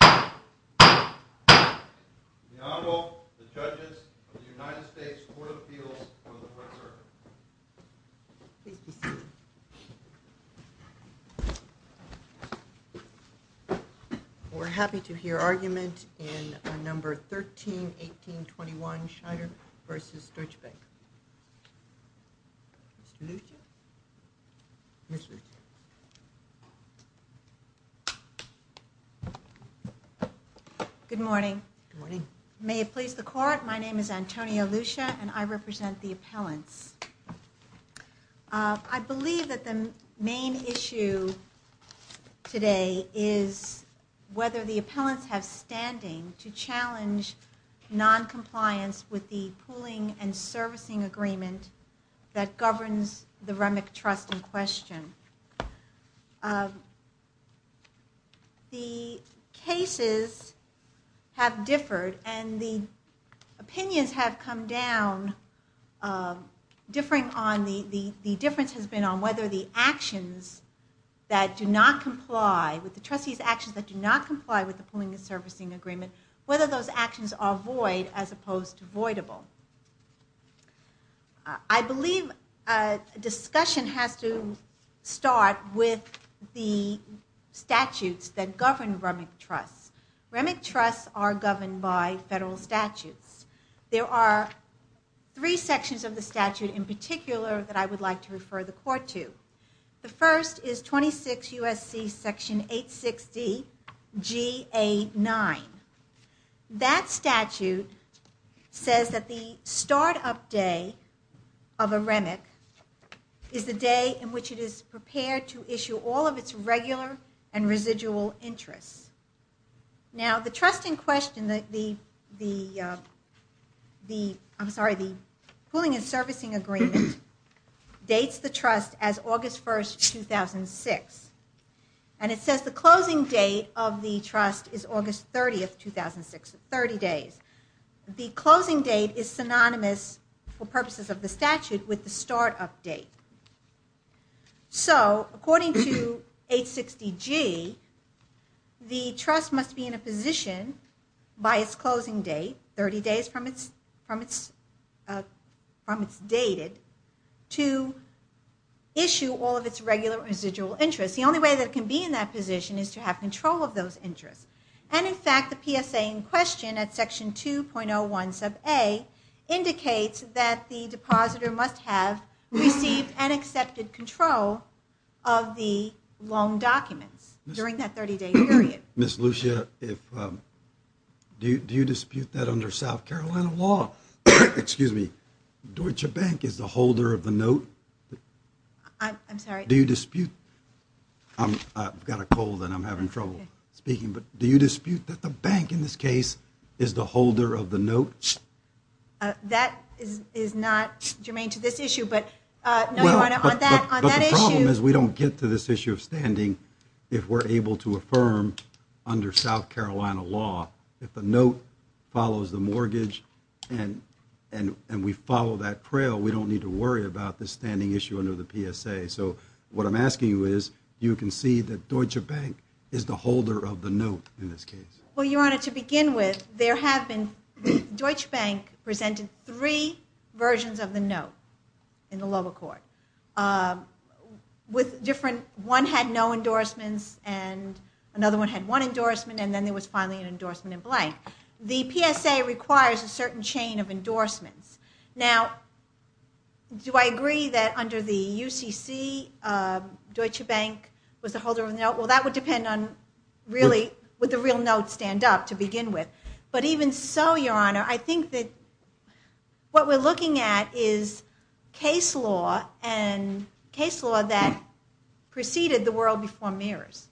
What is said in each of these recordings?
The Honorable, the Judges of the United States Court of Appeals of the French Circuit. Please be seated. We're happy to hear argument in Number 131821, Scheider v. Deutsche Bank. Mr. Lucia. Ms. Lucia. Good morning. Good morning. May it please the Court, my name is Antonia Lucia and I represent the appellants. I believe that the main issue today is whether the appellants have standing to challenge noncompliance with the pooling and servicing agreement that governs the Remick Trust in question. The cases have differed and the opinions have come down, differing on, the difference has been on whether the actions that do not comply, with the trustee's actions that do not comply with the pooling and servicing agreement, whether those actions are void as opposed to voidable. I believe discussion has to start with the statutes that govern Remick Trusts. Remick Trusts are governed by federal statutes. There are three sections of the statute in particular that I would like to refer the Court to. The first is 26 U.S.C. section 860 G.A. 9. That statute says that the start-up day of a Remick is the day in which it is prepared to issue all of its regular and residual interests. Now the trust in question, I'm sorry, the pooling and servicing agreement, dates the trust as August 1, 2006. And it says the closing date of the trust is August 30, 2006, 30 days. The closing date is synonymous for purposes of the statute with the start-up date. So according to 860 G., the trust must be in a position by its closing date, 30 days from its dated, to issue all of its regular and residual interests. The only way that it can be in that position is to have control of those interests. And in fact, the PSA in question at section 2.01 sub A indicates that the depositor must have received and accepted control of the loan documents during that 30-day period. Ms. Lucia, do you dispute that under South Carolina law? Excuse me, Deutsche Bank is the holder of the note? I'm sorry? Do you dispute, I've got a cold and I'm having trouble speaking, but do you dispute that the bank in this case is the holder of the note? That is not germane to this issue, but no, Your Honor, on that issue. But the problem is we don't get to this issue of standing if we're able to affirm under South Carolina law. If the note follows the mortgage and we follow that trail, we don't need to worry about the standing issue under the PSA. So what I'm asking you is, do you concede that Deutsche Bank is the holder of the note in this case? Well, Your Honor, to begin with, Deutsche Bank presented three versions of the note in the lower court. One had no endorsements and another one had one endorsement and then there was finally an endorsement in blank. The PSA requires a certain chain of endorsements. Now, do I agree that under the UCC, Deutsche Bank was the holder of the note? Well, that would depend on, really, would the real note stand up to begin with? But even so, Your Honor, I think that what we're looking at is case law and case law that preceded the world before mirrors.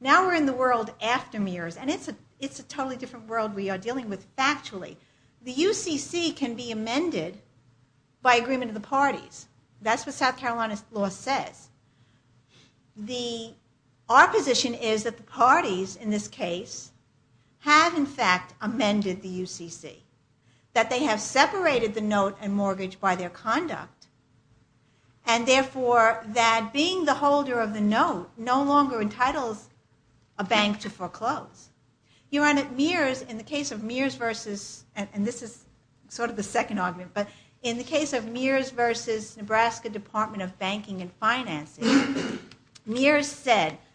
Now we're in the world after mirrors and it's a totally different world we are dealing with factually. The UCC can be amended by agreement of the parties. That's what South Carolina law says. Our position is that the parties in this case have in fact amended the UCC. That they have separated the note and mortgage by their conduct and therefore that being the holder of the note no longer entitles a bank to foreclose. In the case of Mears v. Nebraska Department of Banking and Finances, Mears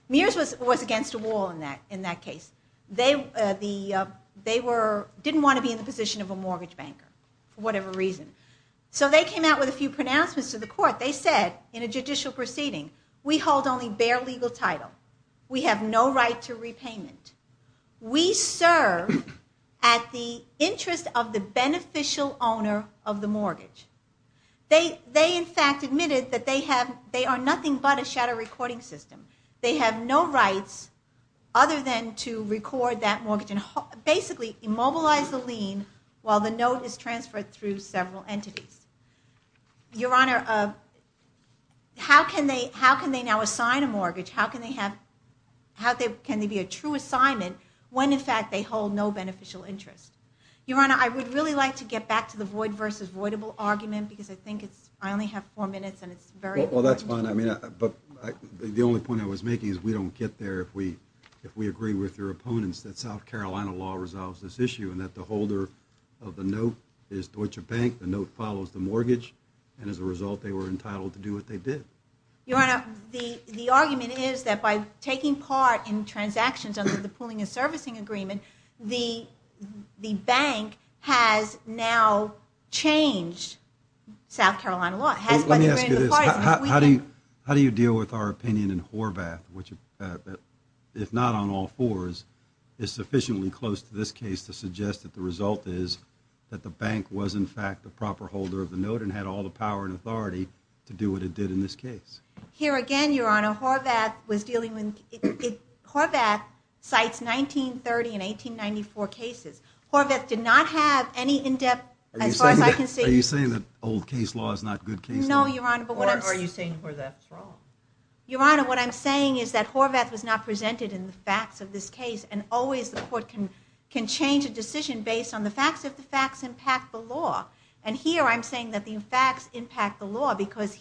was against a wall in that case. They didn't want to be in the position of a mortgage banker for whatever reason. So they came out with a few pronouncements to the court. They said in a judicial proceeding, we hold only bare legal title. We have no right to repayment. We serve at the interest of the beneficial owner of the mortgage. They in fact admitted that they are nothing but a shadow recording system. They have no rights other than to record that mortgage and basically immobilize the lien while the note is transferred through several entities. Your Honor, how can they now assign a mortgage? How can they be a true assignment when in fact they hold no beneficial interest? Your Honor, I would really like to get back to the void versus voidable argument because I think I only have four minutes. Well that's fine. The only point I was making is we don't get there if we agree with your opponents that South Carolina law resolves this issue and that the holder of the note is Deutsche Bank. The note follows the mortgage and as a result they were entitled to do what they did. Your Honor, the argument is that by taking part in transactions under the pooling and servicing agreement, the bank has now changed South Carolina law. Let me ask you this. How do you deal with our opinion in Horvath, which if not on all fours is sufficiently close to this case to suggest that the result is that the bank was in fact the proper holder of the note and had all the power and authority to do what it did in this case? Here again, your Honor, Horvath cites 1930 and 1894 cases. Horvath did not have any in-depth, as far as I can see. Are you saying that old case law is not good case law? Your Honor, what I'm saying is that Horvath was not presented in the facts of this case and always the court can change a decision based on the facts if the facts impact the law. Here I'm saying that the facts impact the law because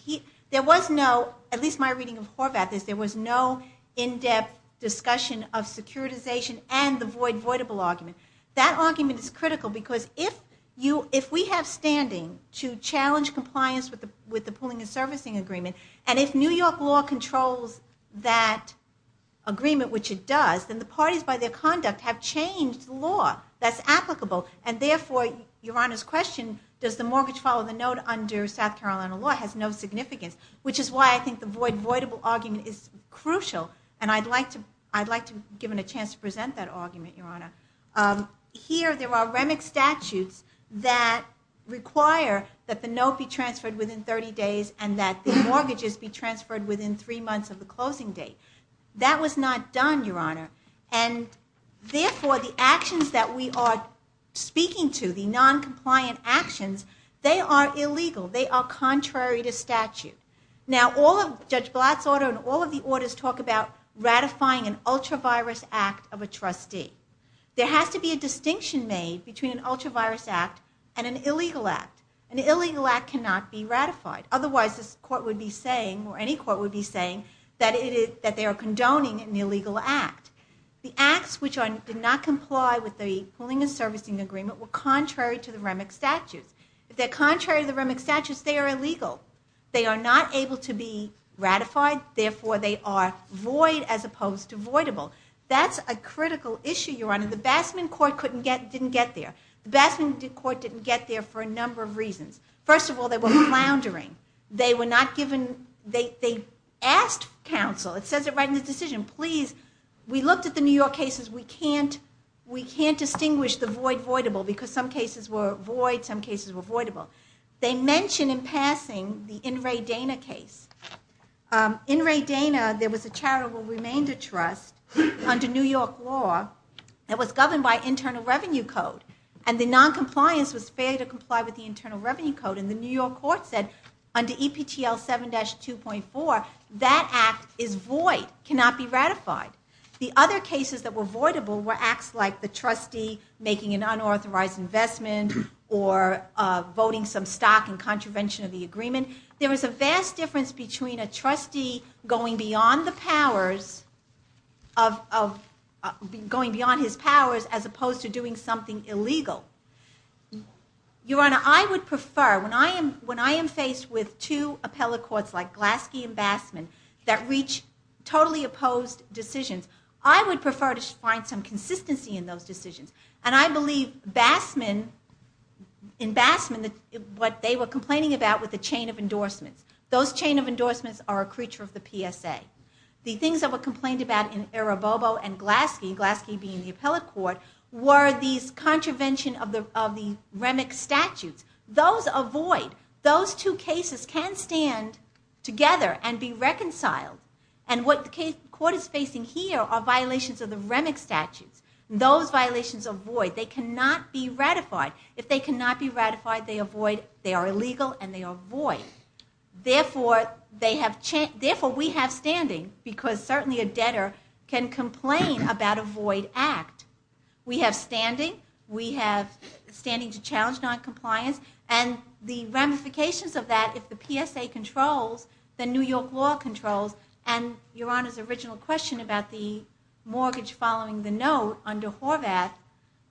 there was no, at least my reading of Horvath, there was no in-depth discussion of securitization and the voidable argument. That argument is critical because if we have standing to challenge compliance with the pooling and servicing agreement and if New York law controls that agreement, which it does, then the parties by their conduct have changed the law that's applicable and therefore, your Honor's question, does the mortgage follow the note under South Carolina law has no significance, which is why I think the voidable argument is crucial and I'd like to give him a chance to present that argument, your Honor. Here there are REMIC statutes that require that the note be transferred within 30 days and that the mortgages be transferred within three months of the closing date. That was not done, your Honor, and therefore the actions that we are speaking to, the non-compliant actions, they are illegal, they are contrary to statute. Now Judge Blatt's order and all of the orders talk about ratifying an ultra-virus act of a trustee. There has to be a distinction made between an ultra-virus act and an illegal act. An illegal act cannot be ratified, otherwise this court would be saying, or any court would be saying, that they are condoning an illegal act. The acts which did not comply with the pooling and servicing agreement were contrary to the REMIC statutes. If they're contrary to the REMIC statutes, they are illegal. They are not able to be ratified, therefore they are void as opposed to voidable. That's a critical issue, your Honor. The Bassman court didn't get there. The Bassman court didn't get there for a number of reasons. First of all, they were floundering. They asked counsel, it says it right in the decision, please, we looked at the New York cases, we can't distinguish the void, voidable, because some cases were void, some cases were voidable. They mention in passing the In re Dana case. In re Dana, there was a charitable remainder trust, under New York law, that was governed by internal revenue code. And the non-compliance was fair to comply with the internal revenue code, and the New York court said, under EPTL 7-2.4, that act is void, cannot be ratified. The other cases that were voidable were acts like the trustee making an unauthorized investment, or voting some stock in contravention of the agreement. There was a vast difference between a trustee going beyond the powers, going beyond his powers, as opposed to doing something illegal. Your Honor, I would prefer, when I am faced with two appellate courts like Glasky and Bassman, that reach totally opposed decisions, I would prefer to find some consistency in those decisions. And I believe in Bassman, what they were complaining about was the chain of endorsements. Those chain of endorsements are a creature of the PSA. The things that were complained about in violation of the REMIC statutes, those are void. Those two cases can stand together and be reconciled. And what the court is facing here are violations of the REMIC statutes. Those violations are void. They cannot be ratified. If they cannot be ratified, they are illegal and they are void. Therefore, we have standing, because certainly a debtor can complain about a void act. We have standing. We have standing to challenge noncompliance. And the ramifications of that, if the PSA controls, then New York law controls. And Your Honor's original question about the mortgage following the note under Horvath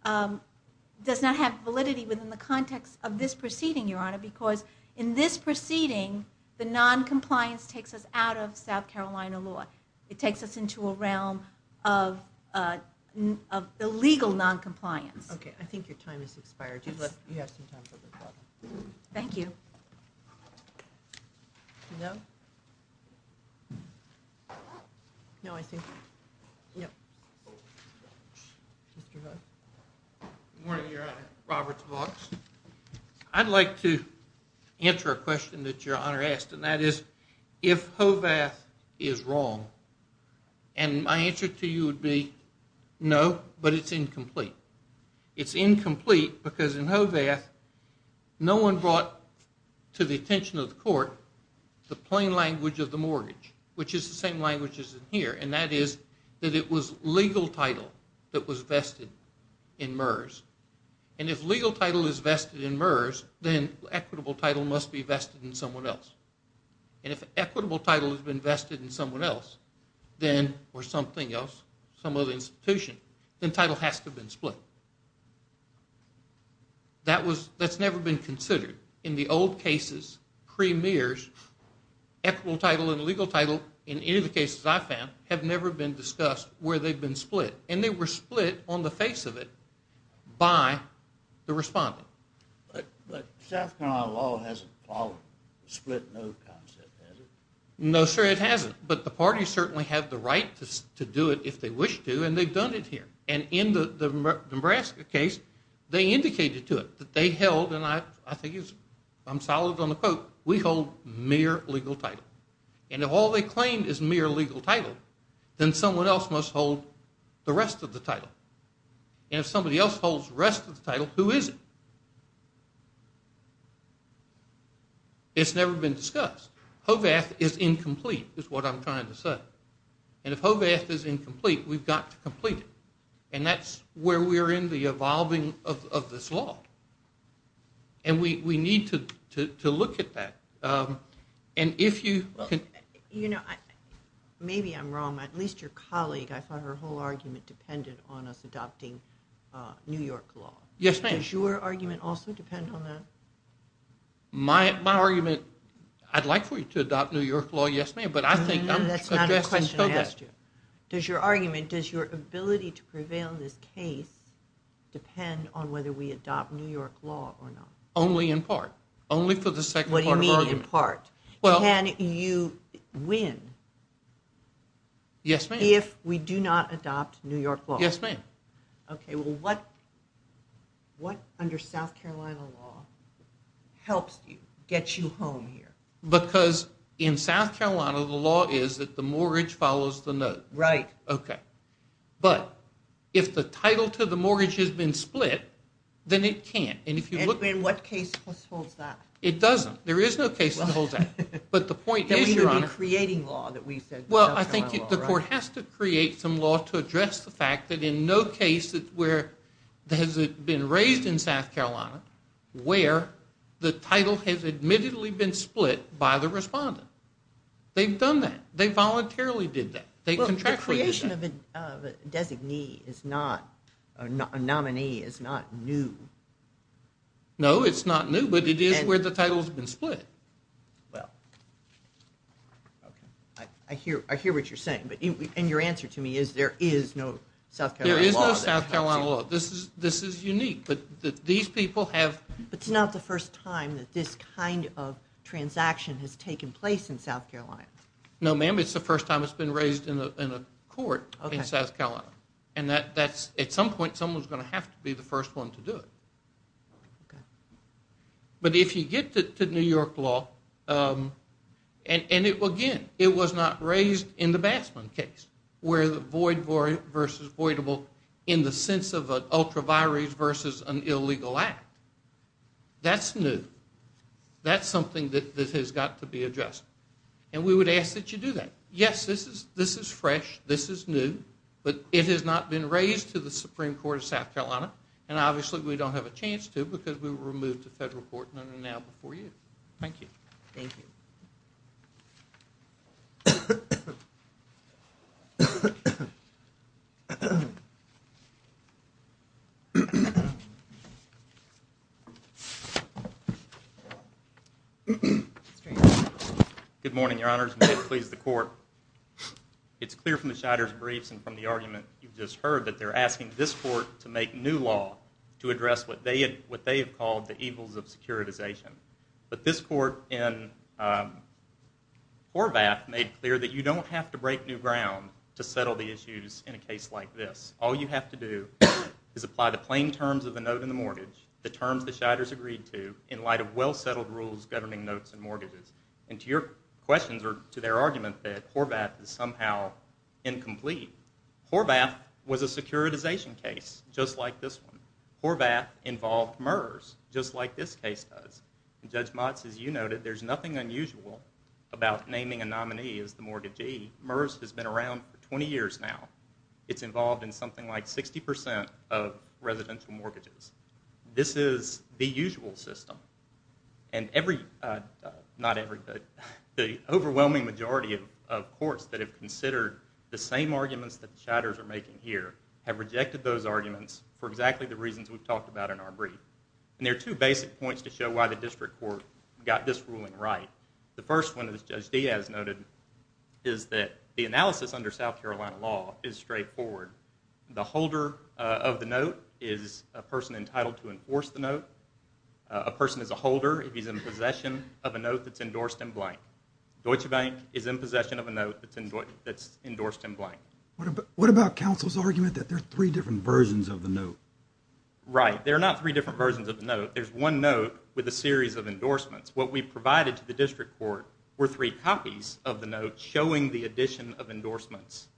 does not have validity within the context of this proceeding, Your Honor, because in this proceeding, the noncompliance takes us out of South Carolina law. It takes us into a realm of illegal noncompliance. Thank you. No? No, I see. I'd like to answer a question that Your Honor asked, and that is, if Horvath is wrong, and my answer to you would be no, but it's incomplete. It's incomplete because in Horvath, no one brought to the attention of the court the plain language of the mortgage, which is the same language as in here, and that is, that it was legal title that was vested in MERS. And if legal title is vested in MERS, then equitable title must be vested in someone else. And if equitable title has been vested in someone else, then, or something else, some other institution, then title has to have been split. That's never been considered. In the old cases, pre-MERS, equitable title and illegal title, in any of the cases I've found, have never been discussed where they've been split. And they were split on the face of it by the respondent. But South Carolina law hasn't split no concept, has it? No, sir, it hasn't. But the parties certainly have the right to do it if they wish to, and they've done it here. And in the Nebraska case, they indicated to it that they held, and I think I'm solid on the quote, we hold mere legal title. And if all they claim is mere legal title, then someone else must hold the rest of the title. And if somebody else holds the rest of the title, who is it? It's never been discussed. HOVATH is incomplete, is what I'm trying to say. And if HOVATH is incomplete, we've got to complete it. And that's where we're in the evolving of this law. And we need to look at that. Maybe I'm wrong, but at least your colleague, I thought her whole argument depended on us adopting New York law. Does your argument also depend on that? My argument, I'd like for you to adopt New York law, yes ma'am, but I think... That's not a question I asked you. Does your argument, does your ability to prevail in this case depend on whether we adopt New York law or not? Only in part. Only for the second part of the argument. What do you mean in part? Can you win if we do not adopt New York law? Yes ma'am. Okay, well what, under South Carolina law, helps you, gets you home here? Because in South Carolina, the law is that the mortgage follows the note. Right. Okay. But if the title to the mortgage has been split, then it can't. And if you look... In what case holds that? It doesn't. There is no case that holds that. But the point is, Your Honor... We should be creating law that we said... Well, I think the court has to create some law to address the fact that in no case has it been raised in South Carolina where the title has admittedly been split by the respondent. They've done that. They voluntarily did that. Well, the creation of a designee is not, a nominee is not new. No, it's not new, but it is where the title has been split. Well, okay. I hear what you're saying. And your answer to me is there is no South Carolina law. There is no South Carolina law. This is unique, but these people have... But it's not the first time that this kind of transaction has taken place in South Carolina. No ma'am, it's the first time it's been raised in a court in South Carolina. And that's, at some point, someone's going to have to be the first one to do it. But if you get to New York law, and again, it was not raised in the Bassman case where the void versus voidable in the sense of an ultraviolet versus an illegal act. That's new. That's something that has got to be addressed. And we would ask that you do that. Yes, this is fresh. This is new. But it has not been raised to the Supreme Court of South Carolina. And obviously we don't have a chance to because we were removed to federal court not an hour before you. Thank you. Good morning, Your Honors, and may it please the Court. It's clear from the Scheider's briefs and from the argument you've just heard that they're asking this court to make new law to address what they have called the evils of securitization. But this court in Horvath made clear that you don't have to break new ground to settle the issues in a case like this. All you have to do is apply the plain terms of the note in the mortgage, the terms the Scheiders agreed to in light of well-settled rules governing notes and mortgages. And to your questions or to their argument that Horvath is somehow incomplete, Horvath was a securitization case just like this one. Horvath involved MERS just like this case does. And Judge Motz, as you noted, there's nothing unusual about naming a nominee as the mortgagee. MERS has been around for 20 years now. It's involved in something like 60% of residential mortgages. This is the usual system. The overwhelming majority of courts that have considered the same arguments that the Scheiders are making here have rejected those arguments for exactly the reasons we've talked about in our brief. And there are two basic points to show why the district court got this ruling right. The first one, as Judge Diaz noted, is that the analysis under South Carolina law is straightforward. The holder of the note is a person entitled to enforce the note. A person is a holder if he's in possession of a note that's endorsed in blank. Right. There are not three different versions of the note. There's one note with a series of endorsements. What we provided to the district court were three copies of the note showing the addition of endorsements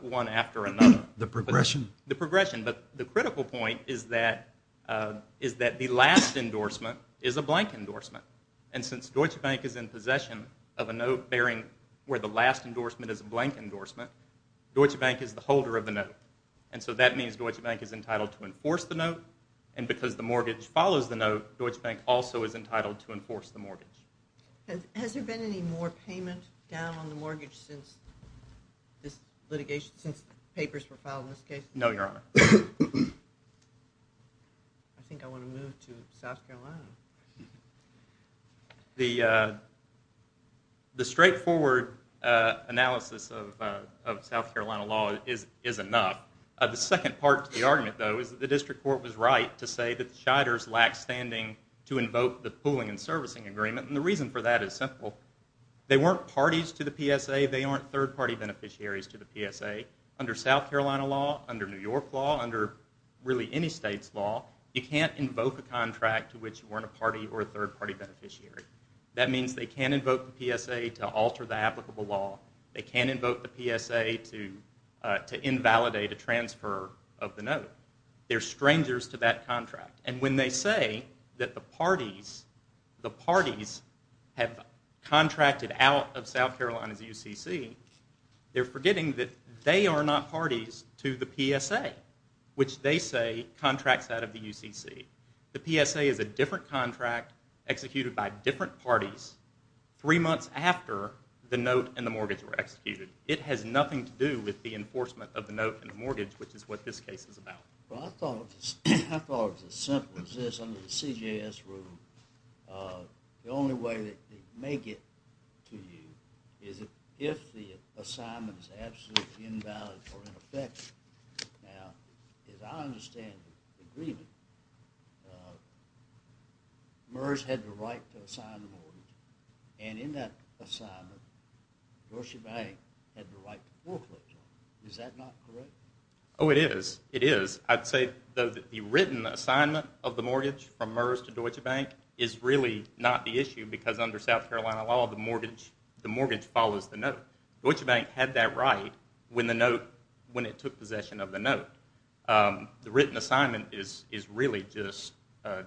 one after another. The progression? The progression. But the critical point is that the last endorsement is a blank endorsement. And since Deutsche Bank is in possession of a note bearing where the last endorsement is a blank endorsement, Deutsche Bank is the holder of the note. And so that means Deutsche Bank is entitled to enforce the note. And because the mortgage follows the note, Deutsche Bank also is entitled to enforce the mortgage. Has there been any more payment down on the mortgage since this litigation, since papers were filed in this case? No, Your Honor. I think I want to move to South Carolina. The straightforward analysis of South Carolina law is enough. The second part to the argument, though, is that the district court was right to say that the Shiders lacked standing to invoke the pooling and servicing agreement. And the reason for that is simple. They weren't parties to the PSA. They aren't third-party beneficiaries to the PSA. Under South Carolina law, under New York law, under really any state's law, you can't invoke a contract to which you weren't a party or a third-party beneficiary. That means they can't invoke the PSA to alter the applicable law. They can't invoke the PSA to invalidate a transfer of the note. They're strangers to that contract. And when they say that the parties have contracted out of South Carolina's UCC, they're forgetting that they are not parties to the PSA, which they say contracts out of the UCC. The PSA is a different contract executed by different parties three months after the note and the mortgage were executed. It has nothing to do with the enforcement of the note and the mortgage, which is what this case is about. I thought it was as simple as this under the CJS rule. The only way that they make it to you is if the assignment is absolutely invalid or ineffective. Now, as I understand the agreement, MERS had the right to assign the mortgage. And in that assignment, Deutsche Bank had the right to foreclosure. Is that not correct? Oh, it is. It is. I'd say the written assignment of the mortgage from MERS to Deutsche Bank is really not the issue because under South Carolina law, the mortgage follows the note. Deutsche Bank had that right when it took possession of the note. The written assignment is really just, I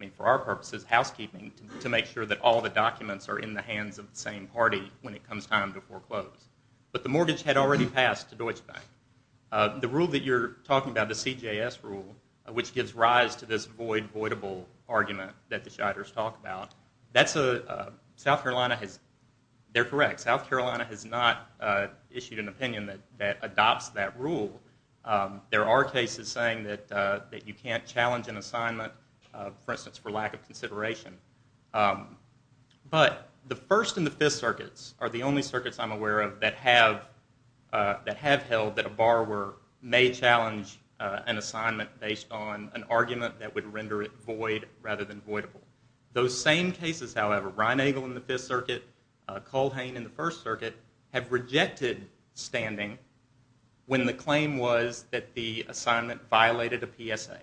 mean, for our purposes, housekeeping to make sure that all the documents are in the hands of the same party when it comes time to foreclose. But the mortgage had already passed to Deutsche Bank. The rule that you're talking about, the CJS rule, which gives rise to this void-voidable argument that the Shiders talk about, that's a, South Carolina has, they're correct, South Carolina has not issued an opinion that adopts that rule. There are cases saying that you can't challenge an assignment, for instance, for lack of consideration. But the First and the Fifth Circuits are the only circuits I'm aware of that have held that a borrower may challenge an assignment based on an argument that would render it void rather than voidable. Those same cases, however, Reinagel in the Fifth Circuit, Culhane in the First Circuit, have rejected standing when the claim was that the assignment violated a PSA.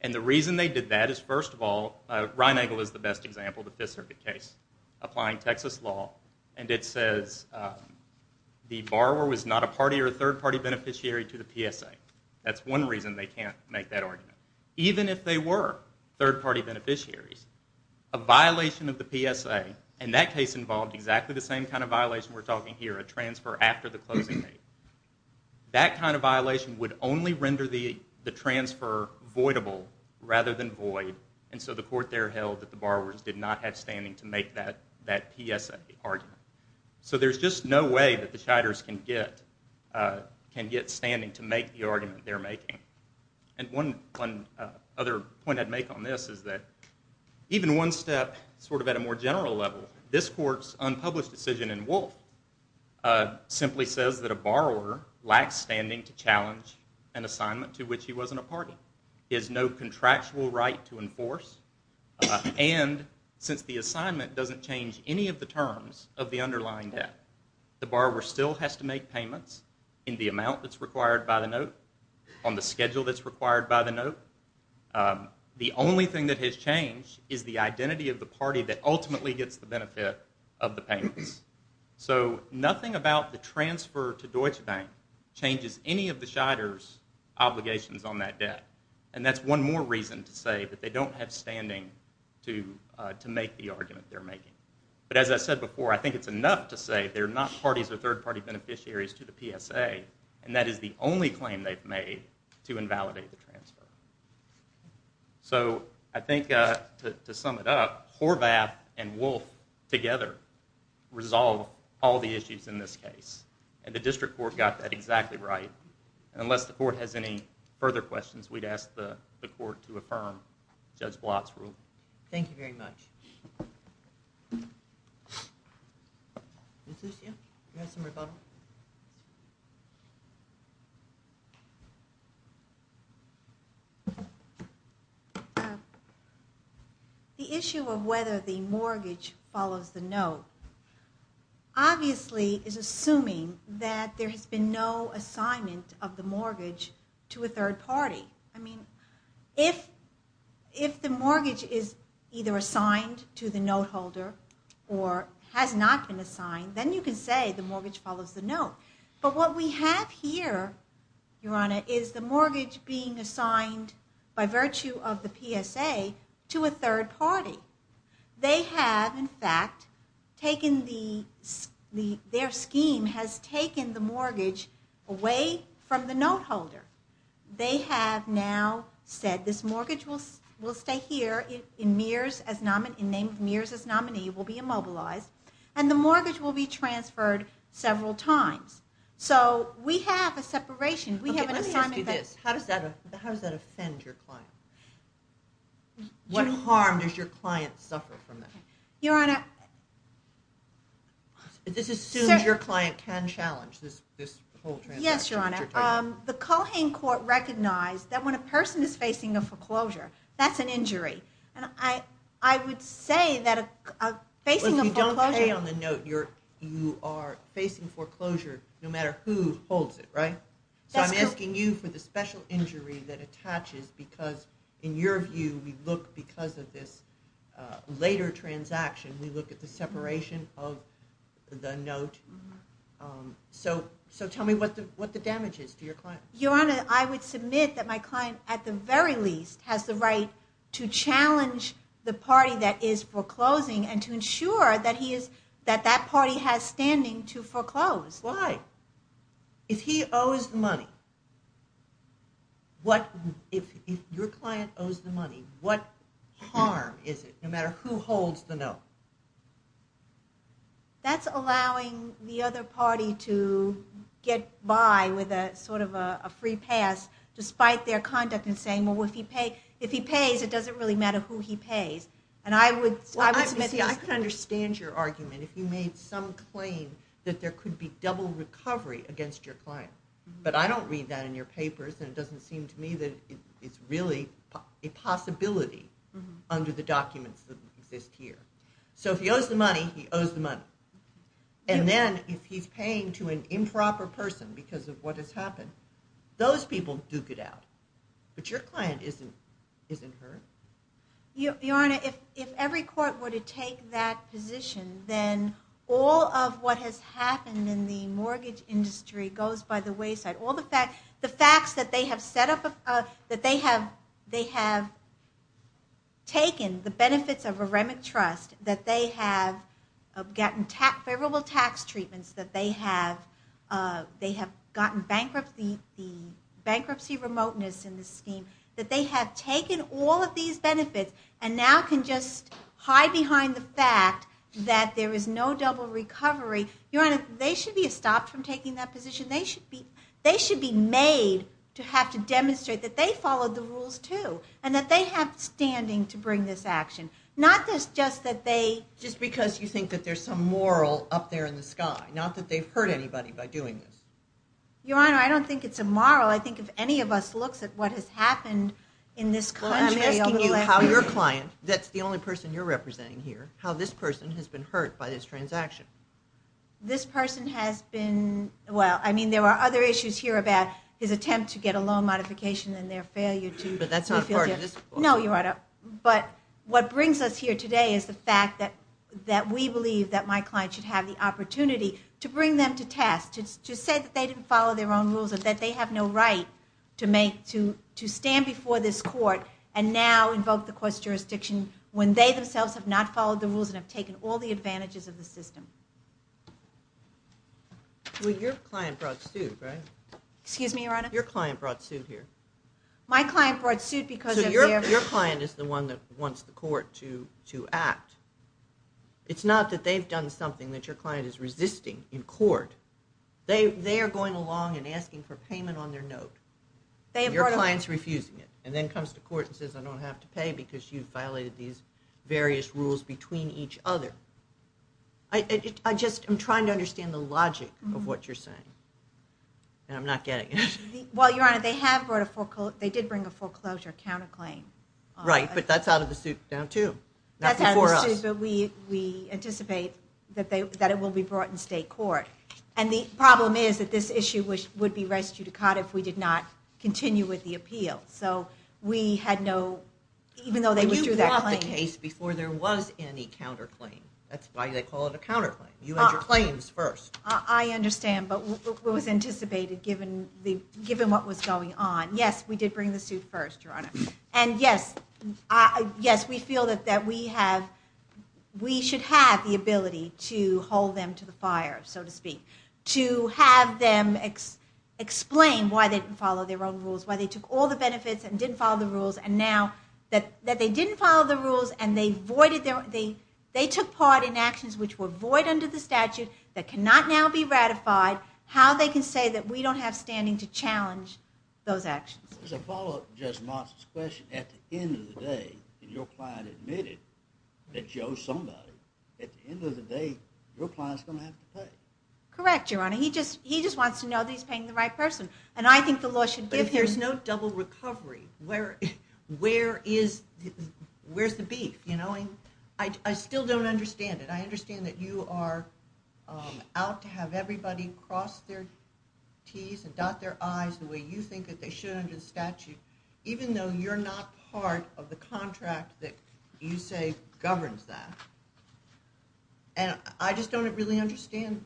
And the reason they did that is, first of all, Reinagel is the best example, the Fifth Circuit case, applying Texas law, and it says the borrower was not a party or third-party beneficiary to the PSA. That's one reason they can't make that argument. Even if they were third-party beneficiaries, a violation of the PSA, and that case involved exactly the same kind of violation we're talking here, a transfer after the closing date, that kind of violation would only render the transfer voidable rather than void, and so the court there held that the borrowers did not have standing to make that PSA argument. So there's just no way that the Shiders can get standing to make the argument they're making. And one other point I'd make on this is that even one step sort of at a more general level, this court's unpublished decision in Woolf simply says that a borrower lacks standing to challenge an assignment to which he wasn't a party. He has no contractual right to enforce, and since the assignment doesn't change any of the terms of the underlying debt, the borrower still has to make payments in the amount that's required by the note, on the schedule that's required by the note. The only thing that has changed is the identity of the party that ultimately gets the benefit of the payments. So nothing about the transfer to Deutsche Bank changes any of the Shiders' obligations on that debt, and that's one more reason to say that they don't have standing to make the argument they're making. But as I said before, I think it's enough to say they're not parties or third-party beneficiaries to the PSA, and that is the only claim they've made to invalidate the transfer. So I think to sum it up, Horvath and Woolf together resolve all the issues in this case, and the district court got that exactly right. Unless the court has any further questions, we'd ask the court to affirm Judge Blatt's rule. Thank you very much. The issue of whether the mortgage follows the note, obviously is assuming that there has been no assignment of the mortgage to a third party. I mean, if the mortgage is either assigned to the note holder or has not been assigned, then you can say the mortgage follows the note. But what we have here, Your Honor, is the mortgage being assigned by virtue of the PSA to a third party. They have, in fact, their scheme has taken the mortgage away from the note holder. They have now said this mortgage will stay here, named Mears as nominee, will be immobilized, and the mortgage will be transferred several times. So we have a separation. Let me ask you this. How does that offend your client? What harm does your client suffer from that? Your Honor... Yes, Your Honor. The Cohen Court recognized that when a person is facing a foreclosure, that's an injury. And I would say that facing a foreclosure... Well, if you don't pay on the note, you are facing foreclosure no matter who holds it, right? That's correct. So I'm asking you for the special injury that attaches, because in your view, we look, because of this later transaction, we look at the separation of the note. So tell me what the damage is to your client. Your Honor, I would submit that my client, at the very least, has the right to challenge the party that is foreclosing and to ensure that that party has standing to foreclose. Why? If he owes the money, if your client owes the money, what harm is it no matter who holds the note? That's allowing the other party to get by with a sort of a free pass despite their conduct in saying, well, if he pays, it doesn't really matter who he pays. And I would... Well, I could understand your argument if you made some claim that there could be double recovery against your client. But I don't read that in your papers, and it doesn't seem to me that it's really a possibility under the documents that exist here. So if he owes the money, he owes the money. And then if he's paying to an improper person because of what has happened, those people duke it out. But your client isn't hurt. Your Honor, if every court were to take that position, then all of what has happened in the mortgage industry goes by the wayside. The facts that they have set up, that they have taken the benefits of a remit trust, that they have gotten favorable tax treatments, that they have gotten bankruptcy remoteness in the scheme, that they have taken all of these benefits and now can just hide behind the fact that there is no double recovery. Your Honor, they should be stopped from taking that position. They should be made to have to demonstrate that they followed the rules too and that they have standing to bring this action. Not just that they... Just because you think that there's some moral up there in the sky, not that they've hurt anybody by doing this. Your Honor, I don't think it's a moral. I think if any of us looks at what has happened in this country... Well, I'm asking you how your client, that's the only person you're representing here, how this person has been hurt by this transaction. This person has been... Well, I mean, there are other issues here about his attempt to get a loan modification and their failure to... But that's not part of this court. No, Your Honor. But what brings us here today is the fact that we believe that my client should have the opportunity to bring them to task, to say that they didn't follow their own rules and that they have no right to stand before this court and now invoke the court's jurisdiction when they themselves have not followed the rules and have taken all the advantages of the system. Well, your client brought suit, right? Excuse me, Your Honor? Your client brought suit here. My client brought suit because... So your client is the one that wants the court to act. It's not that they've done something that your client is resisting in court. They are going along and asking for payment on their note. Your client's refusing it, and then comes to court and says, I don't have to pay because you've violated these various rules between each other. I just am trying to understand the logic of what you're saying. And I'm not getting it. Well, Your Honor, they have brought a foreclosure... They did bring a foreclosure counterclaim. Right, but that's out of the suit now, too. That's out of the suit, but we anticipate that it will be brought in state court. And the problem is that this issue would be res judicata if we did not continue with the appeal. So we had no... You brought the case before there was any counterclaim. That's why they call it a counterclaim. You had your claims first. I understand, but it was anticipated, given what was going on. Yes, we did bring the suit first, Your Honor. And yes, we feel that we should have the ability to hold them to the fire, so to speak. To have them explain why they didn't follow their own rules, why they took all the benefits and didn't follow the rules, and now that they didn't follow the rules and they took part in actions which were void under the statute that cannot now be ratified, how they can say that we don't have standing to challenge those actions. As a follow-up to Judge Monson's question, at the end of the day, if your client admitted that she owes somebody, at the end of the day, your client's going to have to pay. Correct, Your Honor. He just wants to know that he's paying the right person. And I think the law should give, there's no double recovery. Where is the beef? I still don't understand it. I understand that you are out to have everybody cross their Ts and dot their Is the way you think that they should under the statute, even though you're not part of the contract that you say governs that. And I just don't really understand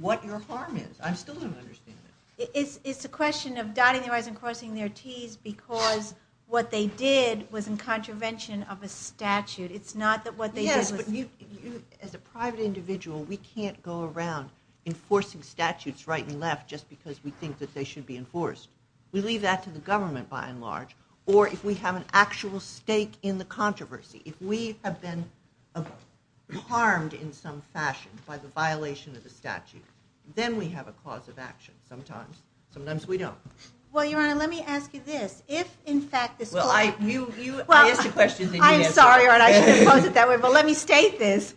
what your harm is. I still don't understand it. It's a question of dotting their Is and crossing their Ts because what they did was in contravention of a statute. It's not that what they did was... Yes, but as a private individual, we can't go around enforcing statutes right and left just because we think that they should be enforced. We leave that to the government, by and large. Or if we have an actual stake in the controversy, if we have been harmed in some fashion by the violation of the statute, then we have a cause of action sometimes. Sometimes we don't. Well, Your Honor, let me ask you this. If, in fact, this client... Well, I asked you questions and you didn't answer them. I'm sorry, Your Honor. I shouldn't have posed it that way. But let me state this. If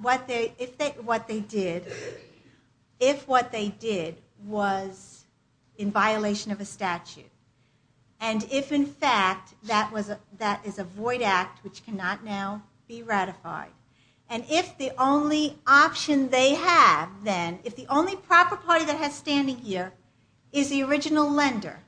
what they did was in violation of a statute, and if, in fact, that is a void act which cannot now be ratified, and if the only option they have, then, if the only proper party that has standing here is the original lender,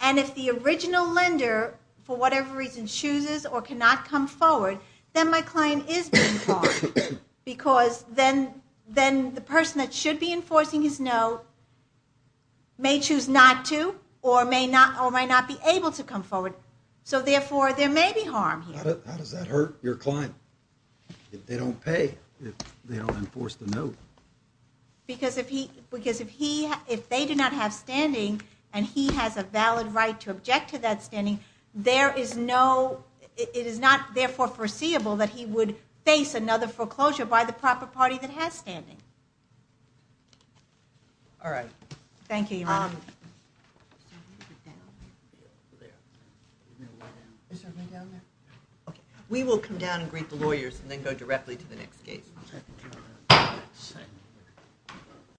and if the original lender, for whatever reason, chooses or cannot come forward, then my client is being harmed because then the person that should be enforcing his no may choose not to or may not be able to come forward. So, therefore, there may be harm here. How does that hurt your client if they don't pay, if they don't enforce the no? Because if they do not have standing and he has a valid right to object to that standing, it is not, therefore, foreseeable that he would face another foreclosure by the proper party that has standing. All right. Thank you, Your Honor. Is everybody down there? Is everybody down there? Okay. We will come down and greet the lawyers and then go directly to the next case.